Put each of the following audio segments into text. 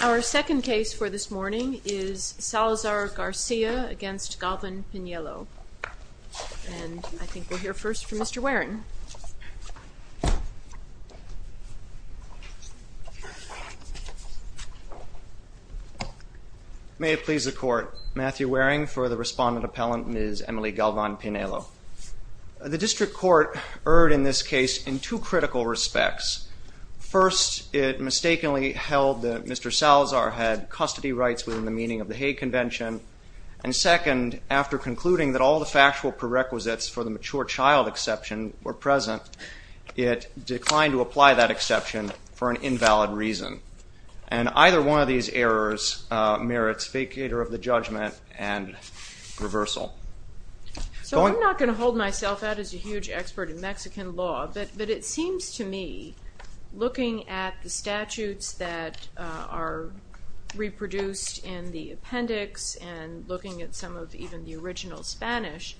Our second case for this morning is Salazar-Garcia v. Galvan-Pinelo, and I think we'll hear first from Mr. Waren. May it please the Court. Matthew Waring for the respondent appellant, Ms. Emely Galvan-Pinelo. The District Court erred in this case in two critical respects. First, it mistakenly held that Mr. Salazar had custody rights within the meaning of the Hague Convention, and second, after concluding that all the factual prerequisites for the mature child exception were present, it declined to apply that exception for an invalid reason. And either one of these errors merits vacator of the judgment and reversal. So I'm not going to hold myself out as a huge expert in Mexican law, but it seems to me looking at the statutes that are reproduced in the appendix and looking at some of even the original Spanish,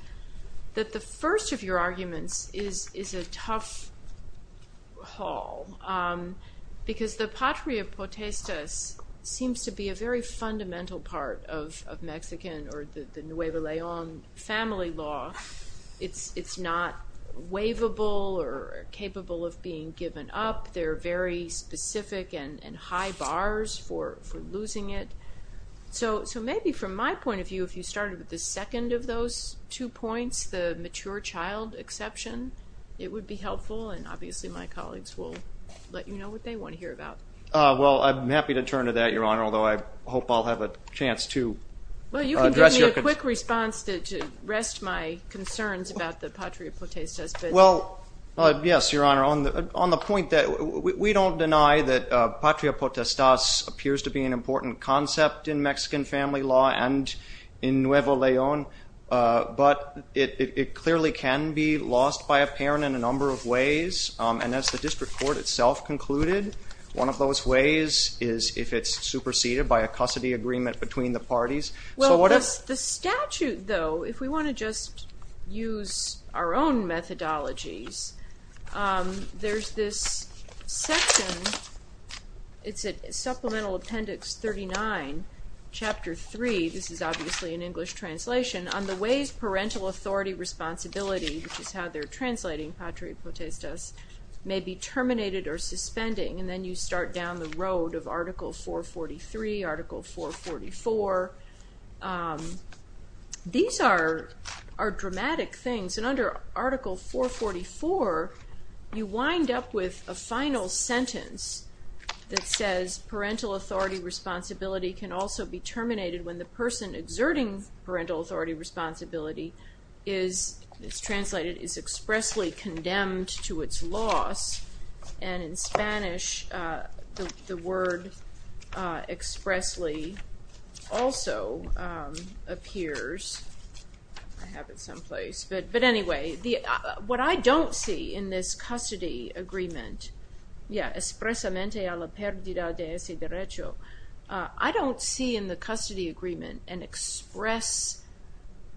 that the first of your arguments is a tough haul, because the patria potestas seems to be a very fundamental part of Mexican or the Nuevo León family law. It's not waivable or capable of being given up. There are very specific and high bars for losing it. So maybe from my point of view, if you started with the second of those two points, the mature child exception, it would be helpful, and obviously my colleagues will let you know what they want to hear about. Well, I'm happy to turn to that, Your Honor, although I hope I'll have a chance to address your concern. Just give me a quick response to rest my concerns about the patria potestas. Well, yes, Your Honor. On the point that we don't deny that patria potestas appears to be an important concept in Mexican family law and in Nuevo León, but it clearly can be lost by a parent in a number of ways. And as the district court itself concluded, one of those ways is if it's superseded by a custody agreement between the parties. Well, the statute, though, if we want to just use our own methodologies, there's this section. It's at Supplemental Appendix 39, Chapter 3. This is obviously an English translation. On the ways parental authority responsibility, which is how they're translating patria potestas, may be terminated or suspending, and then you start down the road of Article 443, Article 444. These are dramatic things. And under Article 444, you wind up with a final sentence that says parental authority responsibility can also be terminated when the person exerting parental authority responsibility is, it's translated, is expressly condemned to its loss. And in Spanish, the word expressly also appears. I have it someplace. But anyway, what I don't see in this custody agreement, yeah, expressamente a la perdida de ese derecho, I don't see in the custody agreement an express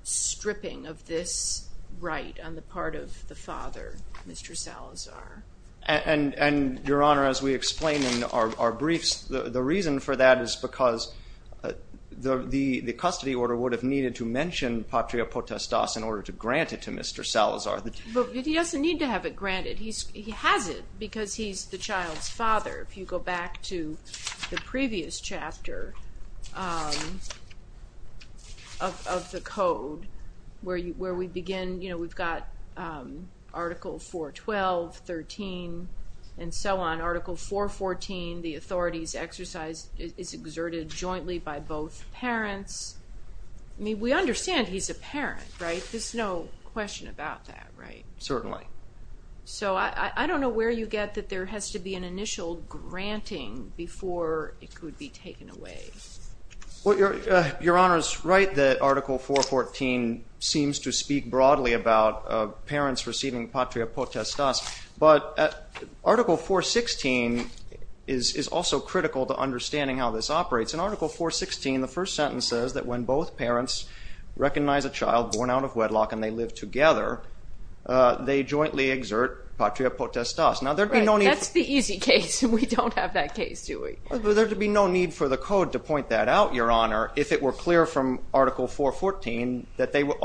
stripping of this right on the part of the father, Mr. Salazar. And, Your Honor, as we explain in our briefs, the reason for that is because the custody order would have needed to mention patria potestas in order to grant it to Mr. Salazar. But he doesn't need to have it granted. He has it because he's the child's father. If you go back to the previous chapter of the Code, where we begin, we've got Article 412, 13, and so on. Article 414, the authority's exercise, is exerted jointly by both parents. I mean, we understand he's a parent, right? There's no question about that, right? Certainly. So I don't know where you get that there has to be an initial granting before it could be taken away. Well, Your Honor's right that Article 414 seems to speak broadly about parents receiving patria potestas. But Article 416 is also critical to understanding how this operates. In Article 416, the first sentence says that when both parents recognize a child born out of wedlock and they live together, they jointly exert patria potestas. Right. That's the easy case. We don't have that case, do we? There would be no need for the Code to point that out, Your Honor, if it were clear from Article 414 that they would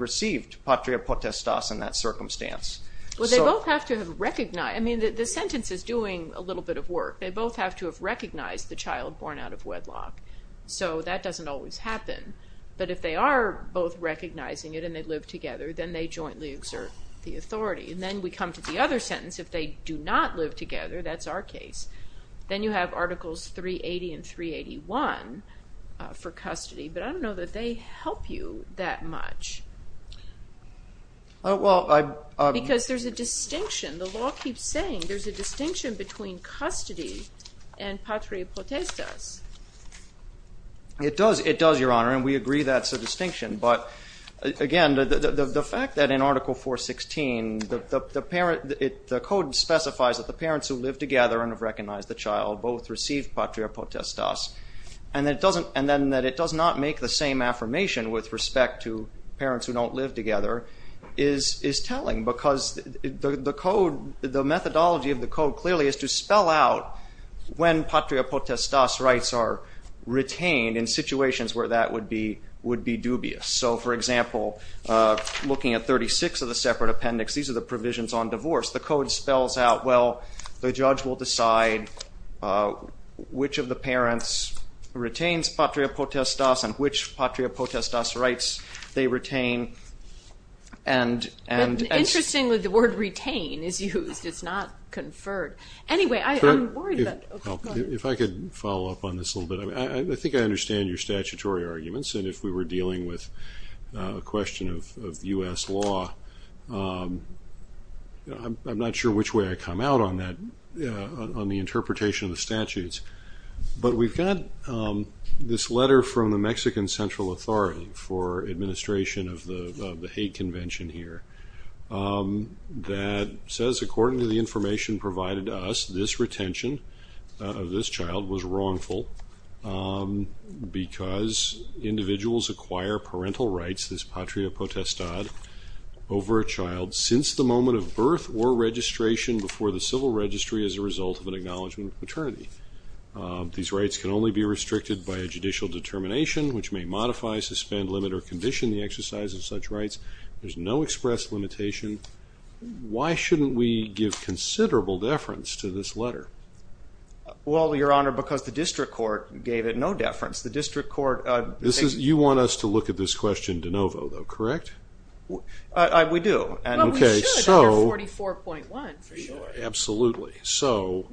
receive patria potestas in that circumstance. Well, they both have to have recognized, I mean, the sentence is doing a little bit of work. They both have to have recognized the child born out of wedlock. So that doesn't always happen. But if they are both recognizing it and they live together, then they jointly exert the authority. And then we come to the other sentence, if they do not live together, that's our case, then you have Articles 380 and 381 for custody. But I don't know that they help you that much. Because there's a distinction. The law keeps saying there's a distinction between custody and patria potestas. It does, it does, Your Honor, and we agree that's a distinction. But again, the fact that in Article 416, the Code specifies that the parents who live together and have recognized the child both receive patria potestas, and that it doesn't, and then that it does not make the same affirmation with respect to parents who don't live together, is telling. Because the Code, the methodology of the Code clearly is to spell out when patria potestas rights are retained in situations where that would be dubious. So, for example, looking at 36 of the separate appendix, these are the provisions on divorce. The Code spells out, well, the judge will decide which of the parents retains patria potestas, and which patria potestas rights they retain, and, and... But interestingly, the word retain is used, it's not conferred. Anyway, I'm worried that... If I could follow up on this a little bit. I think I understand your statutory arguments, and if we were dealing with a question of U.S. law, I'm not sure which way I should come out on that, on the interpretation of the statutes. But we've got this letter from the Mexican Central Authority for administration of the hate convention here, that says, according to the information provided to us, this retention of this child was wrongful, because individuals acquire parental rights, this patria potestad, over a child since the moment of birth or registration before the civil registry as a result of an acknowledgment of paternity. These rights can only be restricted by a judicial determination, which may modify, suspend, limit, or condition the exercise of such rights. There's no express limitation. Why shouldn't we give considerable deference to this letter? Well, Your Honor, because the district court gave it no deference. The district court... You want us to look at this question de novo, though, correct? We do. Well, we should, under 44.1, for sure. Absolutely. So,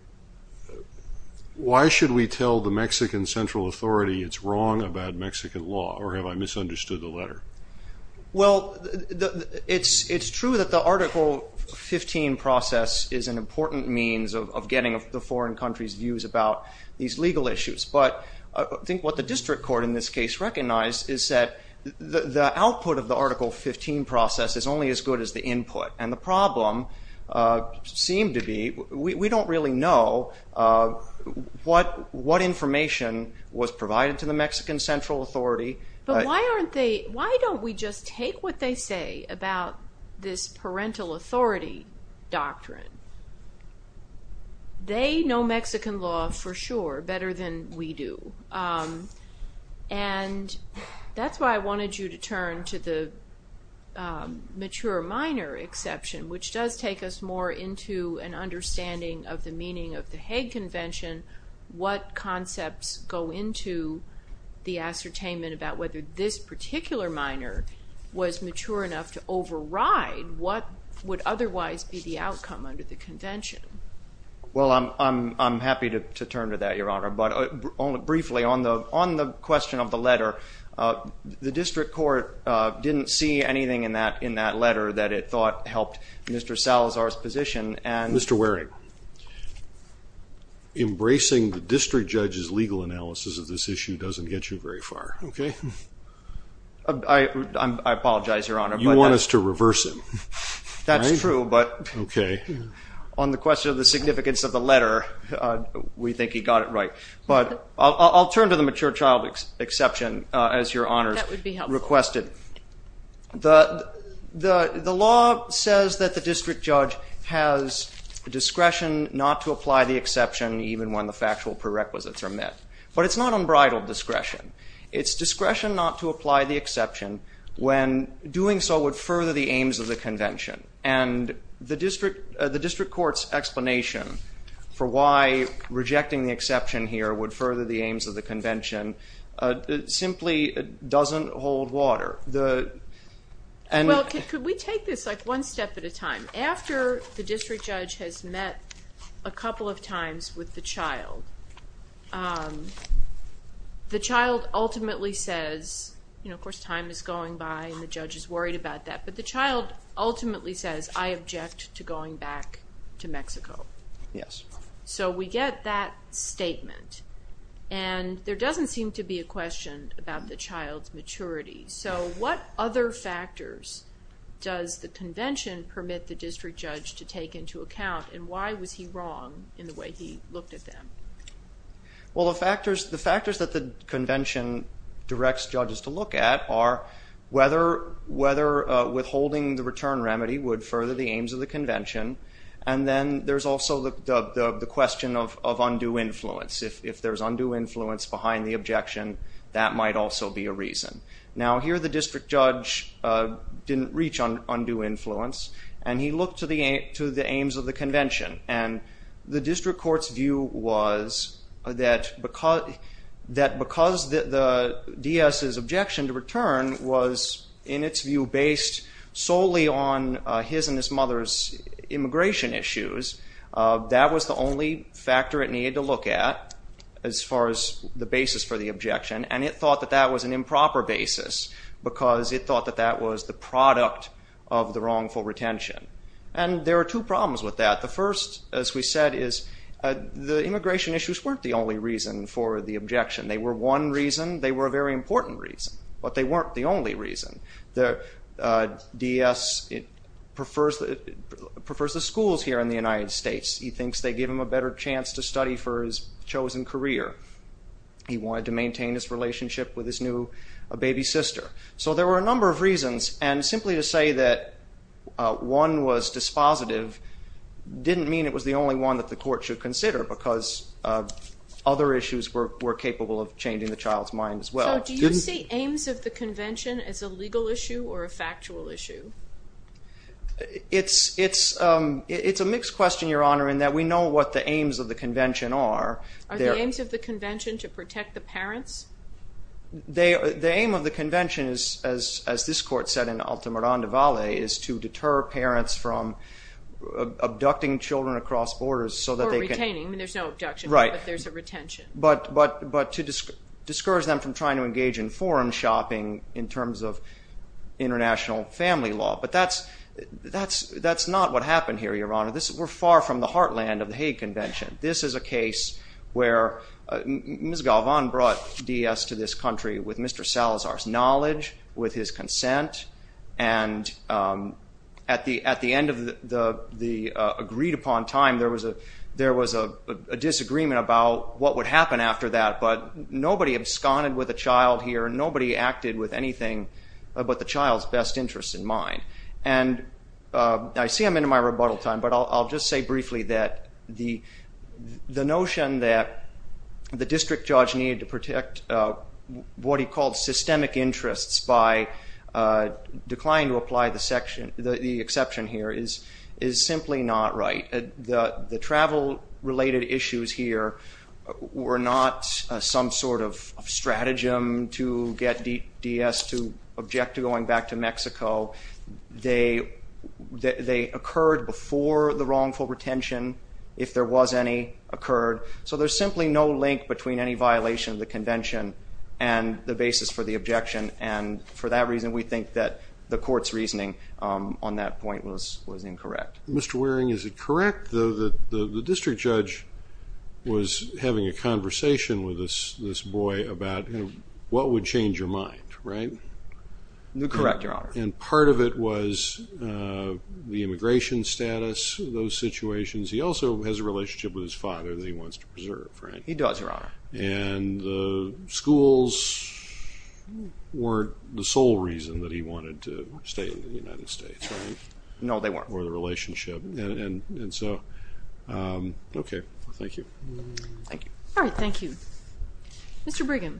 why should we tell the Mexican Central Authority it's wrong about Mexican law, or have I misunderstood the letter? Well, it's true that the Article 15 process is an important means of getting the foreign countries' views about these legal issues, but I think what the district court in this case did was provide the input, and the problem seemed to be, we don't really know what information was provided to the Mexican Central Authority. But why don't we just take what they say about this parental authority doctrine? They know Mexican law for sure better than we do, and that's why I wanted you to turn to the mature minor exception, which does take us more into an understanding of the meaning of the Hague Convention. What concepts go into the ascertainment about whether this particular minor was mature enough to override what would otherwise be the outcome under the convention? Well, I'm happy to turn to that, Your Honor, but briefly, on the question of the letter, the district court didn't see anything in that letter that it thought helped Mr. Salazar's position, and- Mr. Waring, embracing the district judge's legal analysis of this issue doesn't get you very far, okay? I apologize, Your Honor, but- You want us to reverse him, right? That's true, but on the question of the significance of the letter, we think he got it right. But I'll turn to the mature child exception, as Your Honor's requested. The law says that the district judge has discretion not to apply the exception even when the factual prerequisites are met, but it's not unbridled discretion. It's discretion not to apply the exception when doing so would further the aims of the convention. And the district court's for why rejecting the exception here would further the aims of the convention simply doesn't hold water. Well, could we take this one step at a time? After the district judge has met a couple of times with the child, the child ultimately says, you know, of course, time is going by and the judge is worried about that, but the child ultimately says, I object to going back to Mexico. Yes. So we get that statement. And there doesn't seem to be a question about the child's maturity. So what other factors does the convention permit the district judge to take into account and why was he wrong in the way he looked at them? Well, the factors that the convention directs judges to look at are whether withholding the return remedy would further the aims of the convention. And then there's also the question of undue influence. If there's undue influence behind the objection, that might also be a reason. Now here the district judge didn't reach on undue influence and he looked to the aims of the convention. And the district court's view was that because the DS's objection to wholly on his and his mother's immigration issues, that was the only factor it needed to look at as far as the basis for the objection. And it thought that that was an improper basis because it thought that that was the product of the wrongful retention. And there are two problems with that. The first, as we said, is the immigration issues weren't the only reason for the objection. They were one reason. They were a very important reason. But they weren't the only reason. The DS prefers the schools here in the United States. He thinks they give him a better chance to study for his chosen career. He wanted to maintain his relationship with his new baby sister. So there were a number of reasons. And simply to say that one was dispositive didn't mean it was the only one that the court should consider because other issues were capable of changing the child's mind as well. So do you see aims of the convention as a legal issue or a factual issue? It's a mixed question, Your Honor, in that we know what the aims of the convention are. Are the aims of the convention to protect the parents? The aim of the convention, as this court said in Ultima Ronde Valle, is to deter parents from abducting children across borders so that they can... Or retaining. I mean, there's no abduction, but there's a retention. But to discourage them from trying to engage in foreign shopping in terms of international family law. But that's not what happened here, Your Honor. We're far from the heartland of the Hague Convention. This is a case where Ms. Galvan brought DS to this country with Mr. Salazar's knowledge, with his consent. And at the end of the agreed-upon time, there was a disagreement about what would happen after that. But nobody absconded with a child here. Nobody acted with anything but the child's best interest in mind. And I see I'm into my rebuttal time, but I'll just say briefly that the notion that the district judge needed to protect what he called systemic interests by declining to apply the exception here is simply not right. The travel-related issues here were not some sort of stratagem to get DS to object to going back to Mexico. They occurred before the wrongful retention, if there was any, occurred. So there's simply no link between any violation of the convention and the basis for the objection. And for that reason, we think that the court's reasoning on that point was incorrect. Mr. Waring, is it correct, though, that the district judge was having a conversation with this boy about what would change your mind, right? Correct, Your Honor. And part of it was the immigration status, those situations. He also has a relationship with his father that he wants to preserve, right? He does, Your Honor. And the schools weren't the sole reason that he wanted to stay in the United States, right? No, they weren't. Or the relationship. And so, okay. Thank you. Thank you. All right, thank you. Mr. Brigham.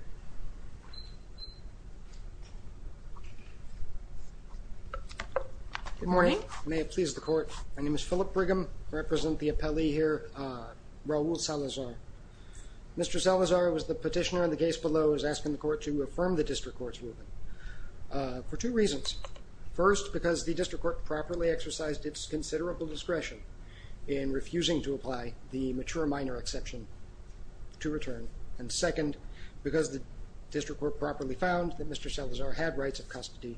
Good morning. May it please the Court. My name is Philip Brigham. I represent the appellee here, Raul Salazar. Mr. Salazar was the petitioner on the case below, was asking the Court to affirm the district court's ruling for two reasons. First, because the district court properly exercised its considerable discretion in refusing to apply the mature minor exception to return. And second, because the district court properly found that Mr. Salazar had rights of custody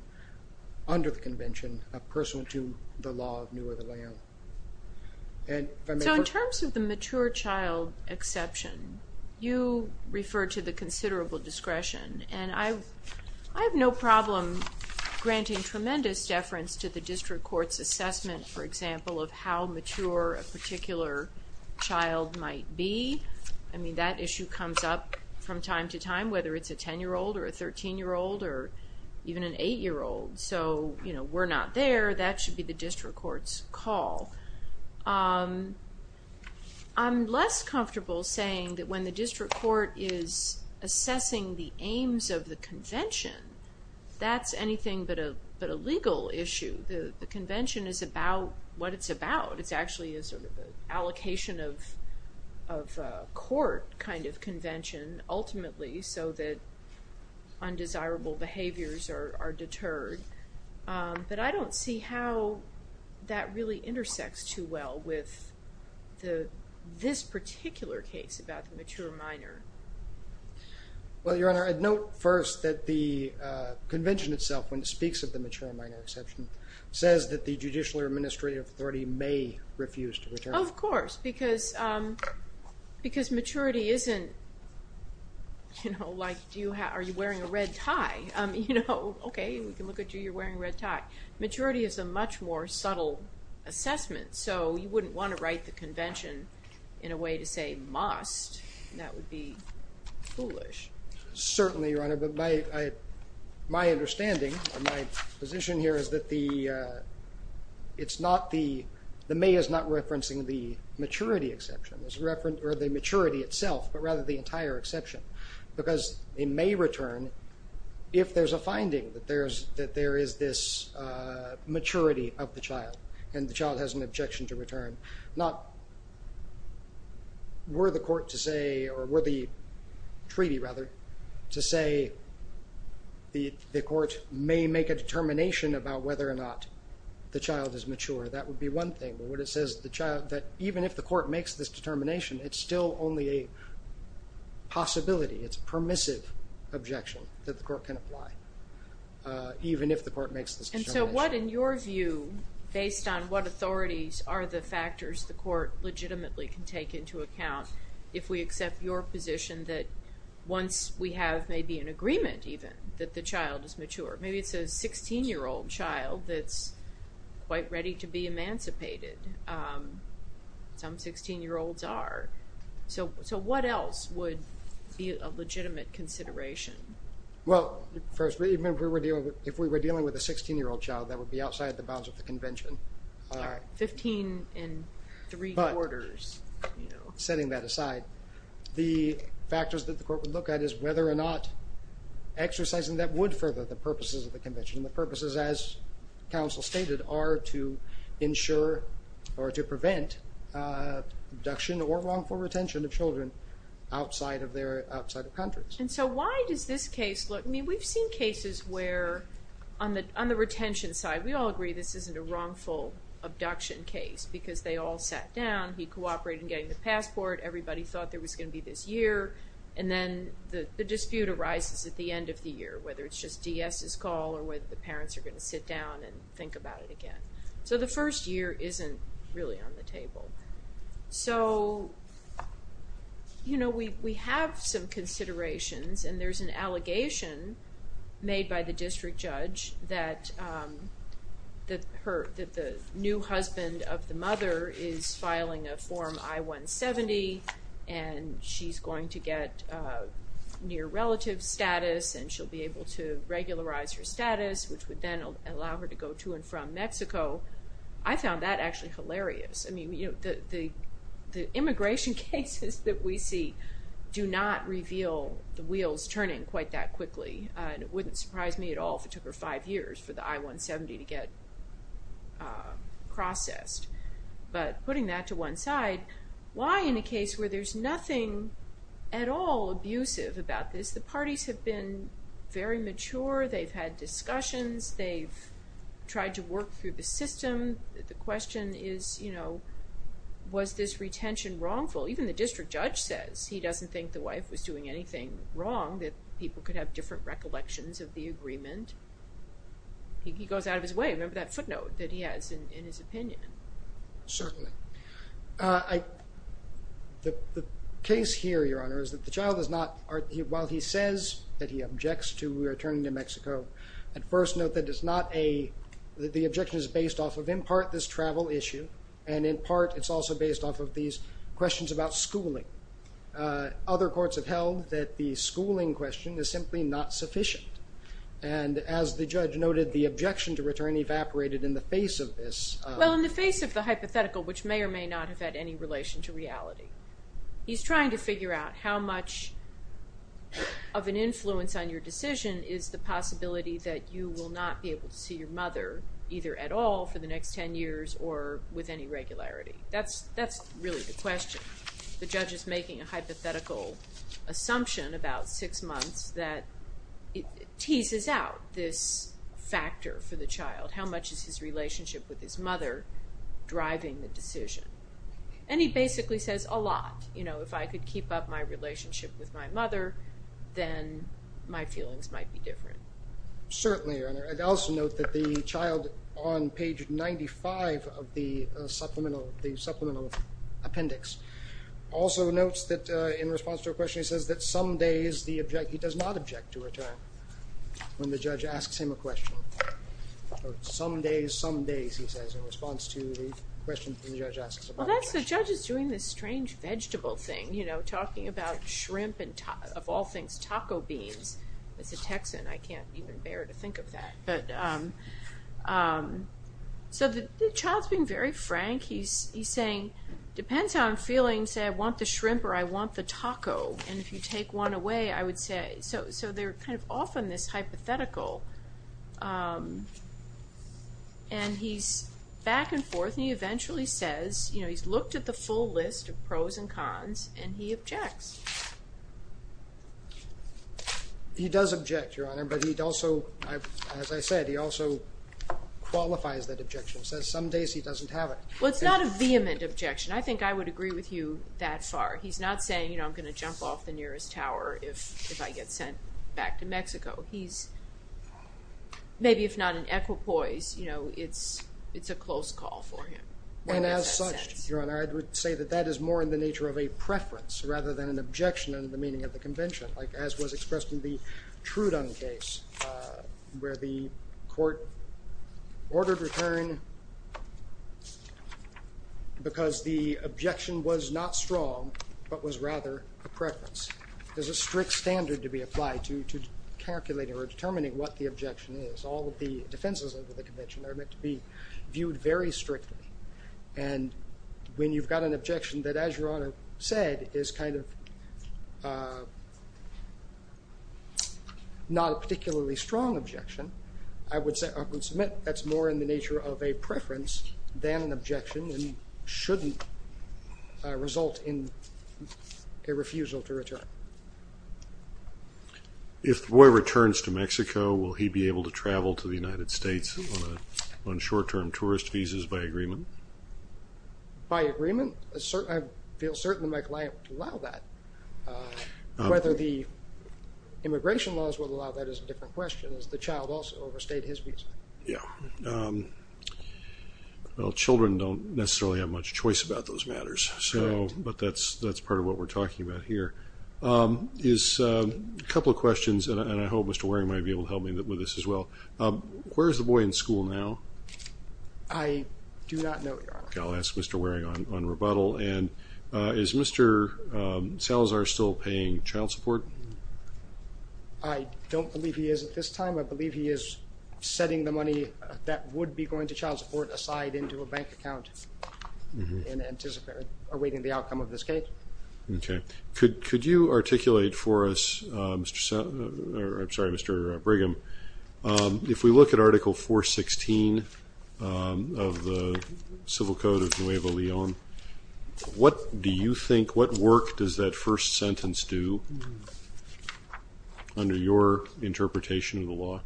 under the convention, pursuant to the law of New or the Way Home. So in terms of the mature child exception, you refer to the considerable discretion. And I have no problem granting tremendous deference to the district court's assessment, for example, of how mature a particular child might be. I mean, that issue comes up from time to time, whether it's a 10-year-old or a 13-year-old or even an 8-year-old. So, you know, we're not there. That should be the district court's call. I'm less comfortable saying that when the district court is assessing the aims of the convention, that's anything but a legal issue. The convention is about what it's about. It's actually a sort of allocation of court kind of convention, ultimately, so that But I don't see how that really intersects too well with this particular case about the mature minor. Well, Your Honor, I'd note first that the convention itself, when it speaks of the mature minor exception, says that the Judicial Administrative Authority may refuse to return. Of course, because maturity isn't, you know, like, are you wearing a red tie? You know, okay, we can look at you, you're wearing a red tie. Maturity is a much more subtle assessment, so you wouldn't want to write the convention in a way to say must. That would be foolish. Certainly, Your Honor, but my understanding, my position here is that the it's not the, the may is not referencing the maturity exception, or the maturity itself, but rather the entire exception, because it may return if there's a finding that there is this maturity of the child, and the child has an objection to return. Not were the court to say, or were the treaty, rather, to say the court may make a determination about whether or not the child is mature. That would be one thing. Even if the court makes this determination, it's still only a possibility. It's a permissive objection that the court can apply, even if the court makes this determination. And so what, in your view, based on what authorities are the factors the court legitimately can take into account if we accept your position that once we have maybe an agreement, even, that the child is mature? Maybe it's a 16-year-old child that's quite ready to be emancipated. Some 16-year-olds are. So what else would be a legitimate consideration? Well, first, remember, if we were dealing with a 16-year-old child, that would be outside the bounds of the Convention. Fifteen and three-quarters. But, setting that aside, the factors that the court would look at is whether or not exercising that would further the purposes of the Convention. The purposes, as counsel stated, are to ensure or to prevent abduction or wrongful retention of children outside of countries. And so why does this case look... I mean, we've seen cases where, on the retention side, we all agree this isn't a wrongful abduction case because they all sat down, he cooperated in getting the passport, everybody thought there was going to be this year, and then the dispute arises at the end of the year, whether it's just DS's call or whether the parents are going to sit down and think about it again. So the first year isn't really on the table. So, you know, we have some considerations, and there's an allegation made by the district judge that the new husband of the mother is filing a Form I-170, and she's going to get near-relative status, and she'll be able to regularize her status, which would then allow her to go to and from Mexico. I found that actually hilarious. I mean, you know, the immigration cases that we see do not reveal the wheels turning quite that quickly, and it wouldn't surprise me at all if it took her five years for the I-170 to get processed. But putting that to one side, why in a case where there's nothing at all abusive about this, the parties have been very mature, they've had discussions, they've tried to work through the system. The question is, you know, was this retention wrongful? Even the district judge says he doesn't think the wife was doing anything wrong, and he goes out of his way. Remember that footnote that he has in his opinion. Certainly. The case here, Your Honor, is that the child is not, while he says that he objects to returning to Mexico, at first note that it's not a, that the objection is based off of in part this travel issue, and in part it's also based off of these questions about schooling. Other courts have held that the schooling question is simply not sufficient, and as the judge noted, the objection to return evaporated in the face of this. Well, in the face of the hypothetical, which may or may not have had any relation to reality, he's trying to figure out how much of an influence on your decision is the possibility that you will not be able to see your mother either at all for the next ten years or with any regularity. That's really the question. The judge is making a hypothetical assumption about six months that teases out this factor for the child. How much is his relationship with his mother driving the decision? And he basically says a lot. You know, if I could keep up my relationship with my mother, then my feelings might be different. Certainly, and I'd also note that the child on page 95 of the supplemental appendix also notes that in response to a question he says that some days the object, he does not object to return when the judge asks him a question. Some days, some days, he says in response to the question the judge asks. Well, that's the judge is doing this strange vegetable thing, you know, talking about shrimp and of all things taco beans. As a Texan, I can't even bear to think of that. So the child's being very frank. He's saying, depends how I'm feeling, say I want the shrimp or I want the taco, and if you take one away, I would say. So they're kind of off on this hypothetical. And he's back and forth, and he eventually says, you know, he's looked at the full list of pros and cons, and he objects. He does object, Your Honor, but he also, as I said, he also qualifies that objection. He says some days he doesn't have it. Well, it's not a vehement objection. I think I would agree with you that far. He's not saying, you know, I'm going to jump off the nearest tower if I get sent back to Mexico. He's maybe if not an equipoise, you know, it's a close call for him. And as such, Your Honor, I would say that that is more in the nature of a preference rather than an objection in the meaning of the convention, like as was expressed in the Trudon case where the court ordered return because the objection was not strong but was rather a preference. There's a strict standard to be applied to calculating or determining what the objection is. All of the defenses of the convention are meant to be viewed very strictly. And when you've got an objection that, as Your Honor said, is kind of not a particularly strong objection, I would submit that's more in the nature of a preference than an objection and shouldn't result in a refusal to return. If Roy returns to Mexico, will he be able to travel to the United States on short-term tourist visas by agreement? By agreement? I feel certainly Michael Iyam would allow that. Whether the immigration laws would allow that is a different question. Has the child also overstayed his visa? Yeah. Well, children don't necessarily have much choice about those matters, but that's part of what we're talking about here. A couple of questions, and I hope Mr. Waring might be able to help me with this as well. Where is the boy in school now? I do not know, Your Honor. I'll ask Mr. Waring on rebuttal. And is Mr. Salazar still paying child support? I don't believe he is at this time. I believe he is setting the money that would be going to child support aside into a bank account and anticipating the outcome of this case. Okay. Could you articulate for us, Mr. Salazar or I'm sorry, Mr. Brigham, if we look at Article 416 of the Civil Code of Nuevo Leon, what do you think, what work does that first sentence do under your interpretation of the law?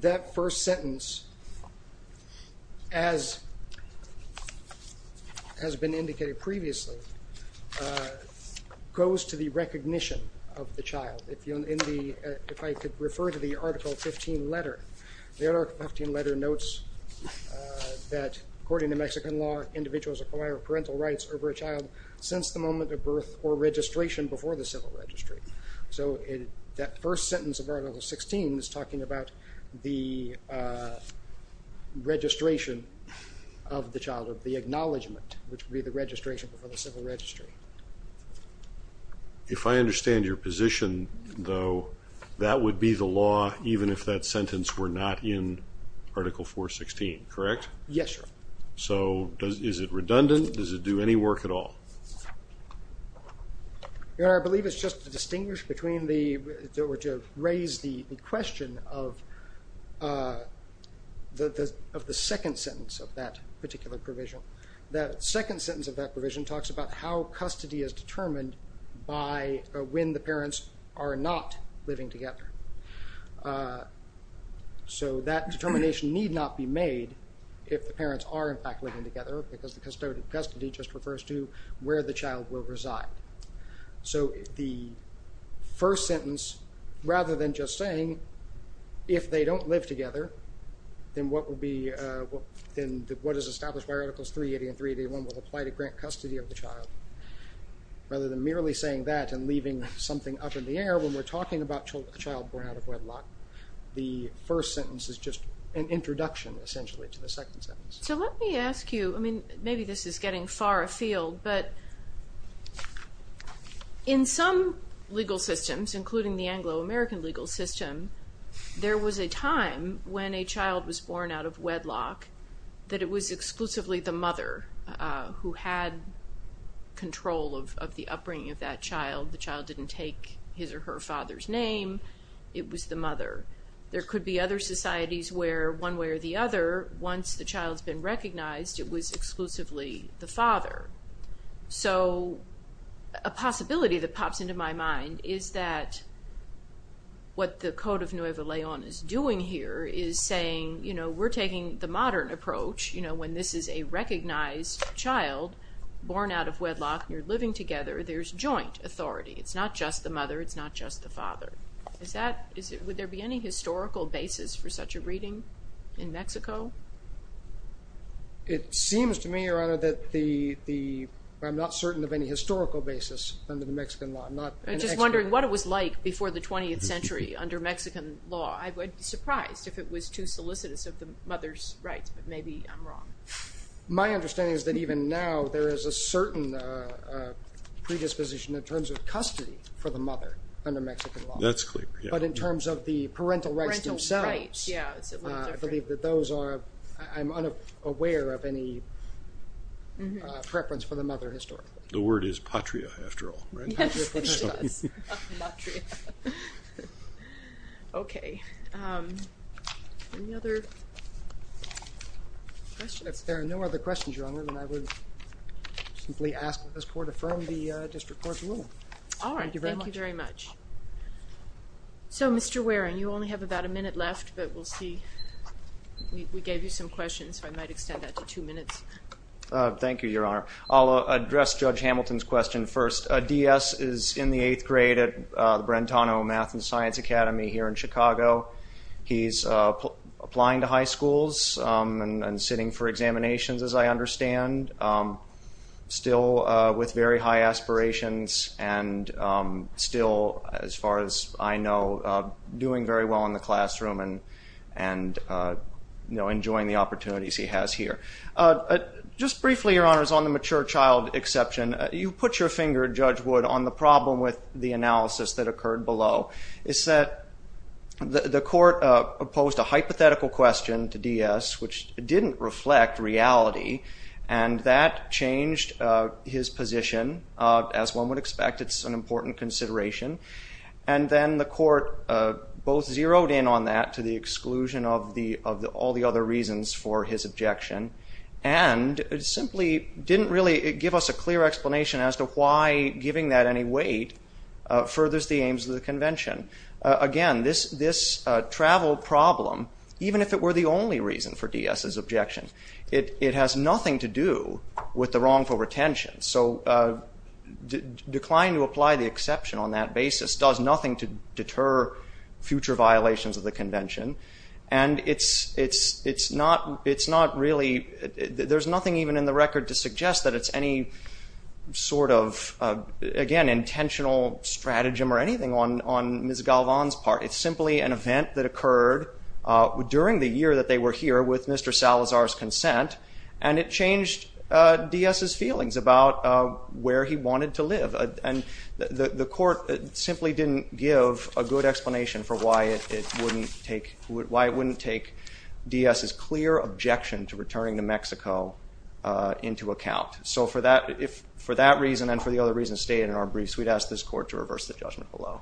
That first sentence, as has been indicated previously, goes to the recognition of the child. If I could refer to the Article 15 letter, the Article 15 letter notes that, according to Mexican law, individuals acquire parental rights over a child since the moment of birth or registration before the civil registry. So that first sentence of Article 16 is talking about the registration of the child, of the acknowledgment, which would be the registration before the civil registry. If I understand your position, though, that would be the law even if that sentence were not in Article 416, correct? Yes, Your Honor. So is it redundant? Does it do any work at all? Your Honor, I believe it's just to distinguish between the, or to raise the question of the second sentence of that particular provision. The second sentence of that provision talks about how custody is determined by when the parents are not living together. So that determination need not be made if the parents are in fact living together because the custodian of custody just refers to where the child will reside. So the first sentence, rather than just saying, if they don't live together, then what is established by Articles 380 and 381 will apply to grant custody of the child. Rather than merely saying that and leaving something up in the air when we're talking about a child born out of wedlock, the first sentence is just an introduction, essentially, to the second sentence. So let me ask you, I mean, maybe this is getting far afield, but in some legal systems, including the Anglo-American legal system, there was a time when a child was born out of wedlock that it was exclusively the mother who had control of the upbringing of that child. The child didn't take his or her father's name. It was the mother. There could be other societies where, one way or the other, once the child's been recognized, it was exclusively the father. So a possibility that pops into my mind is that what the Code of Nuevo León is doing here is saying we're taking the modern approach. When this is a recognized child born out of wedlock and you're living together, there's joint authority. It's not just the mother. It's not just the father. Would there be any historical basis for such a reading in Mexico? It seems to me, Your Honor, that I'm not certain of any historical basis under the Mexican law. I'm just wondering what it was like before the 20th century under Mexican law. I'd be surprised if it was too solicitous of the mother's rights, but maybe I'm wrong. My understanding is that even now there is a certain predisposition in terms of custody for the mother under Mexican law. That's clear, yeah. But in terms of the parental rights themselves, I believe that those are— I'm unaware of any preference for the mother historically. The word is patria, after all, right? Yes, it does. Patria. If there are no other questions, Your Honor, then I would simply ask that this Court affirm the District Court's rule. All right. Thank you very much. Thank you very much. So, Mr. Waring, you only have about a minute left, but we'll see. We gave you some questions, so I might extend that to two minutes. Thank you, Your Honor. I'll address Judge Hamilton's question first. Diaz is in the eighth grade at the Brentano Math and Science Academy here in Chicago. He's applying to high schools and sitting for examinations, as I understand, still with very high aspirations and still, as far as I know, doing very well in the classroom and enjoying the opportunities he has here. Just briefly, Your Honor, on the mature child exception, you put your finger, Judge Wood, on the problem with the analysis that occurred below. It's that the Court opposed a hypothetical question to Diaz, which didn't reflect reality, and that changed his position, as one would expect. It's an important consideration. And then the Court both zeroed in on that to the exclusion of all the other reasons for his objection and simply didn't really give us a clear explanation as to why giving that any weight furthers the aims of the Convention. Again, this travel problem, even if it were the only reason for Diaz's objection, it has nothing to do with the wrongful retention. So declining to apply the exception on that basis does nothing to deter future violations of the Convention. And it's not really – there's nothing even in the record to suggest that it's any sort of, again, intentional stratagem or anything on Ms. Galvan's part. It's simply an event that occurred during the year that they were here with Mr. Salazar's consent, and it changed Diaz's feelings about where he wanted to live. And the Court simply didn't give a good explanation for why it wouldn't take Diaz's clear objection to returning to Mexico into account. So for that reason and for the other reasons stated in our briefs, we'd ask this Court to reverse the judgment below.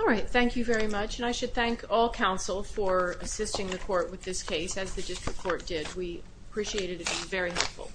All right. Thank you very much. And I should thank all counsel for assisting the Court with this case, as the district court did. We appreciate it. It was very helpful.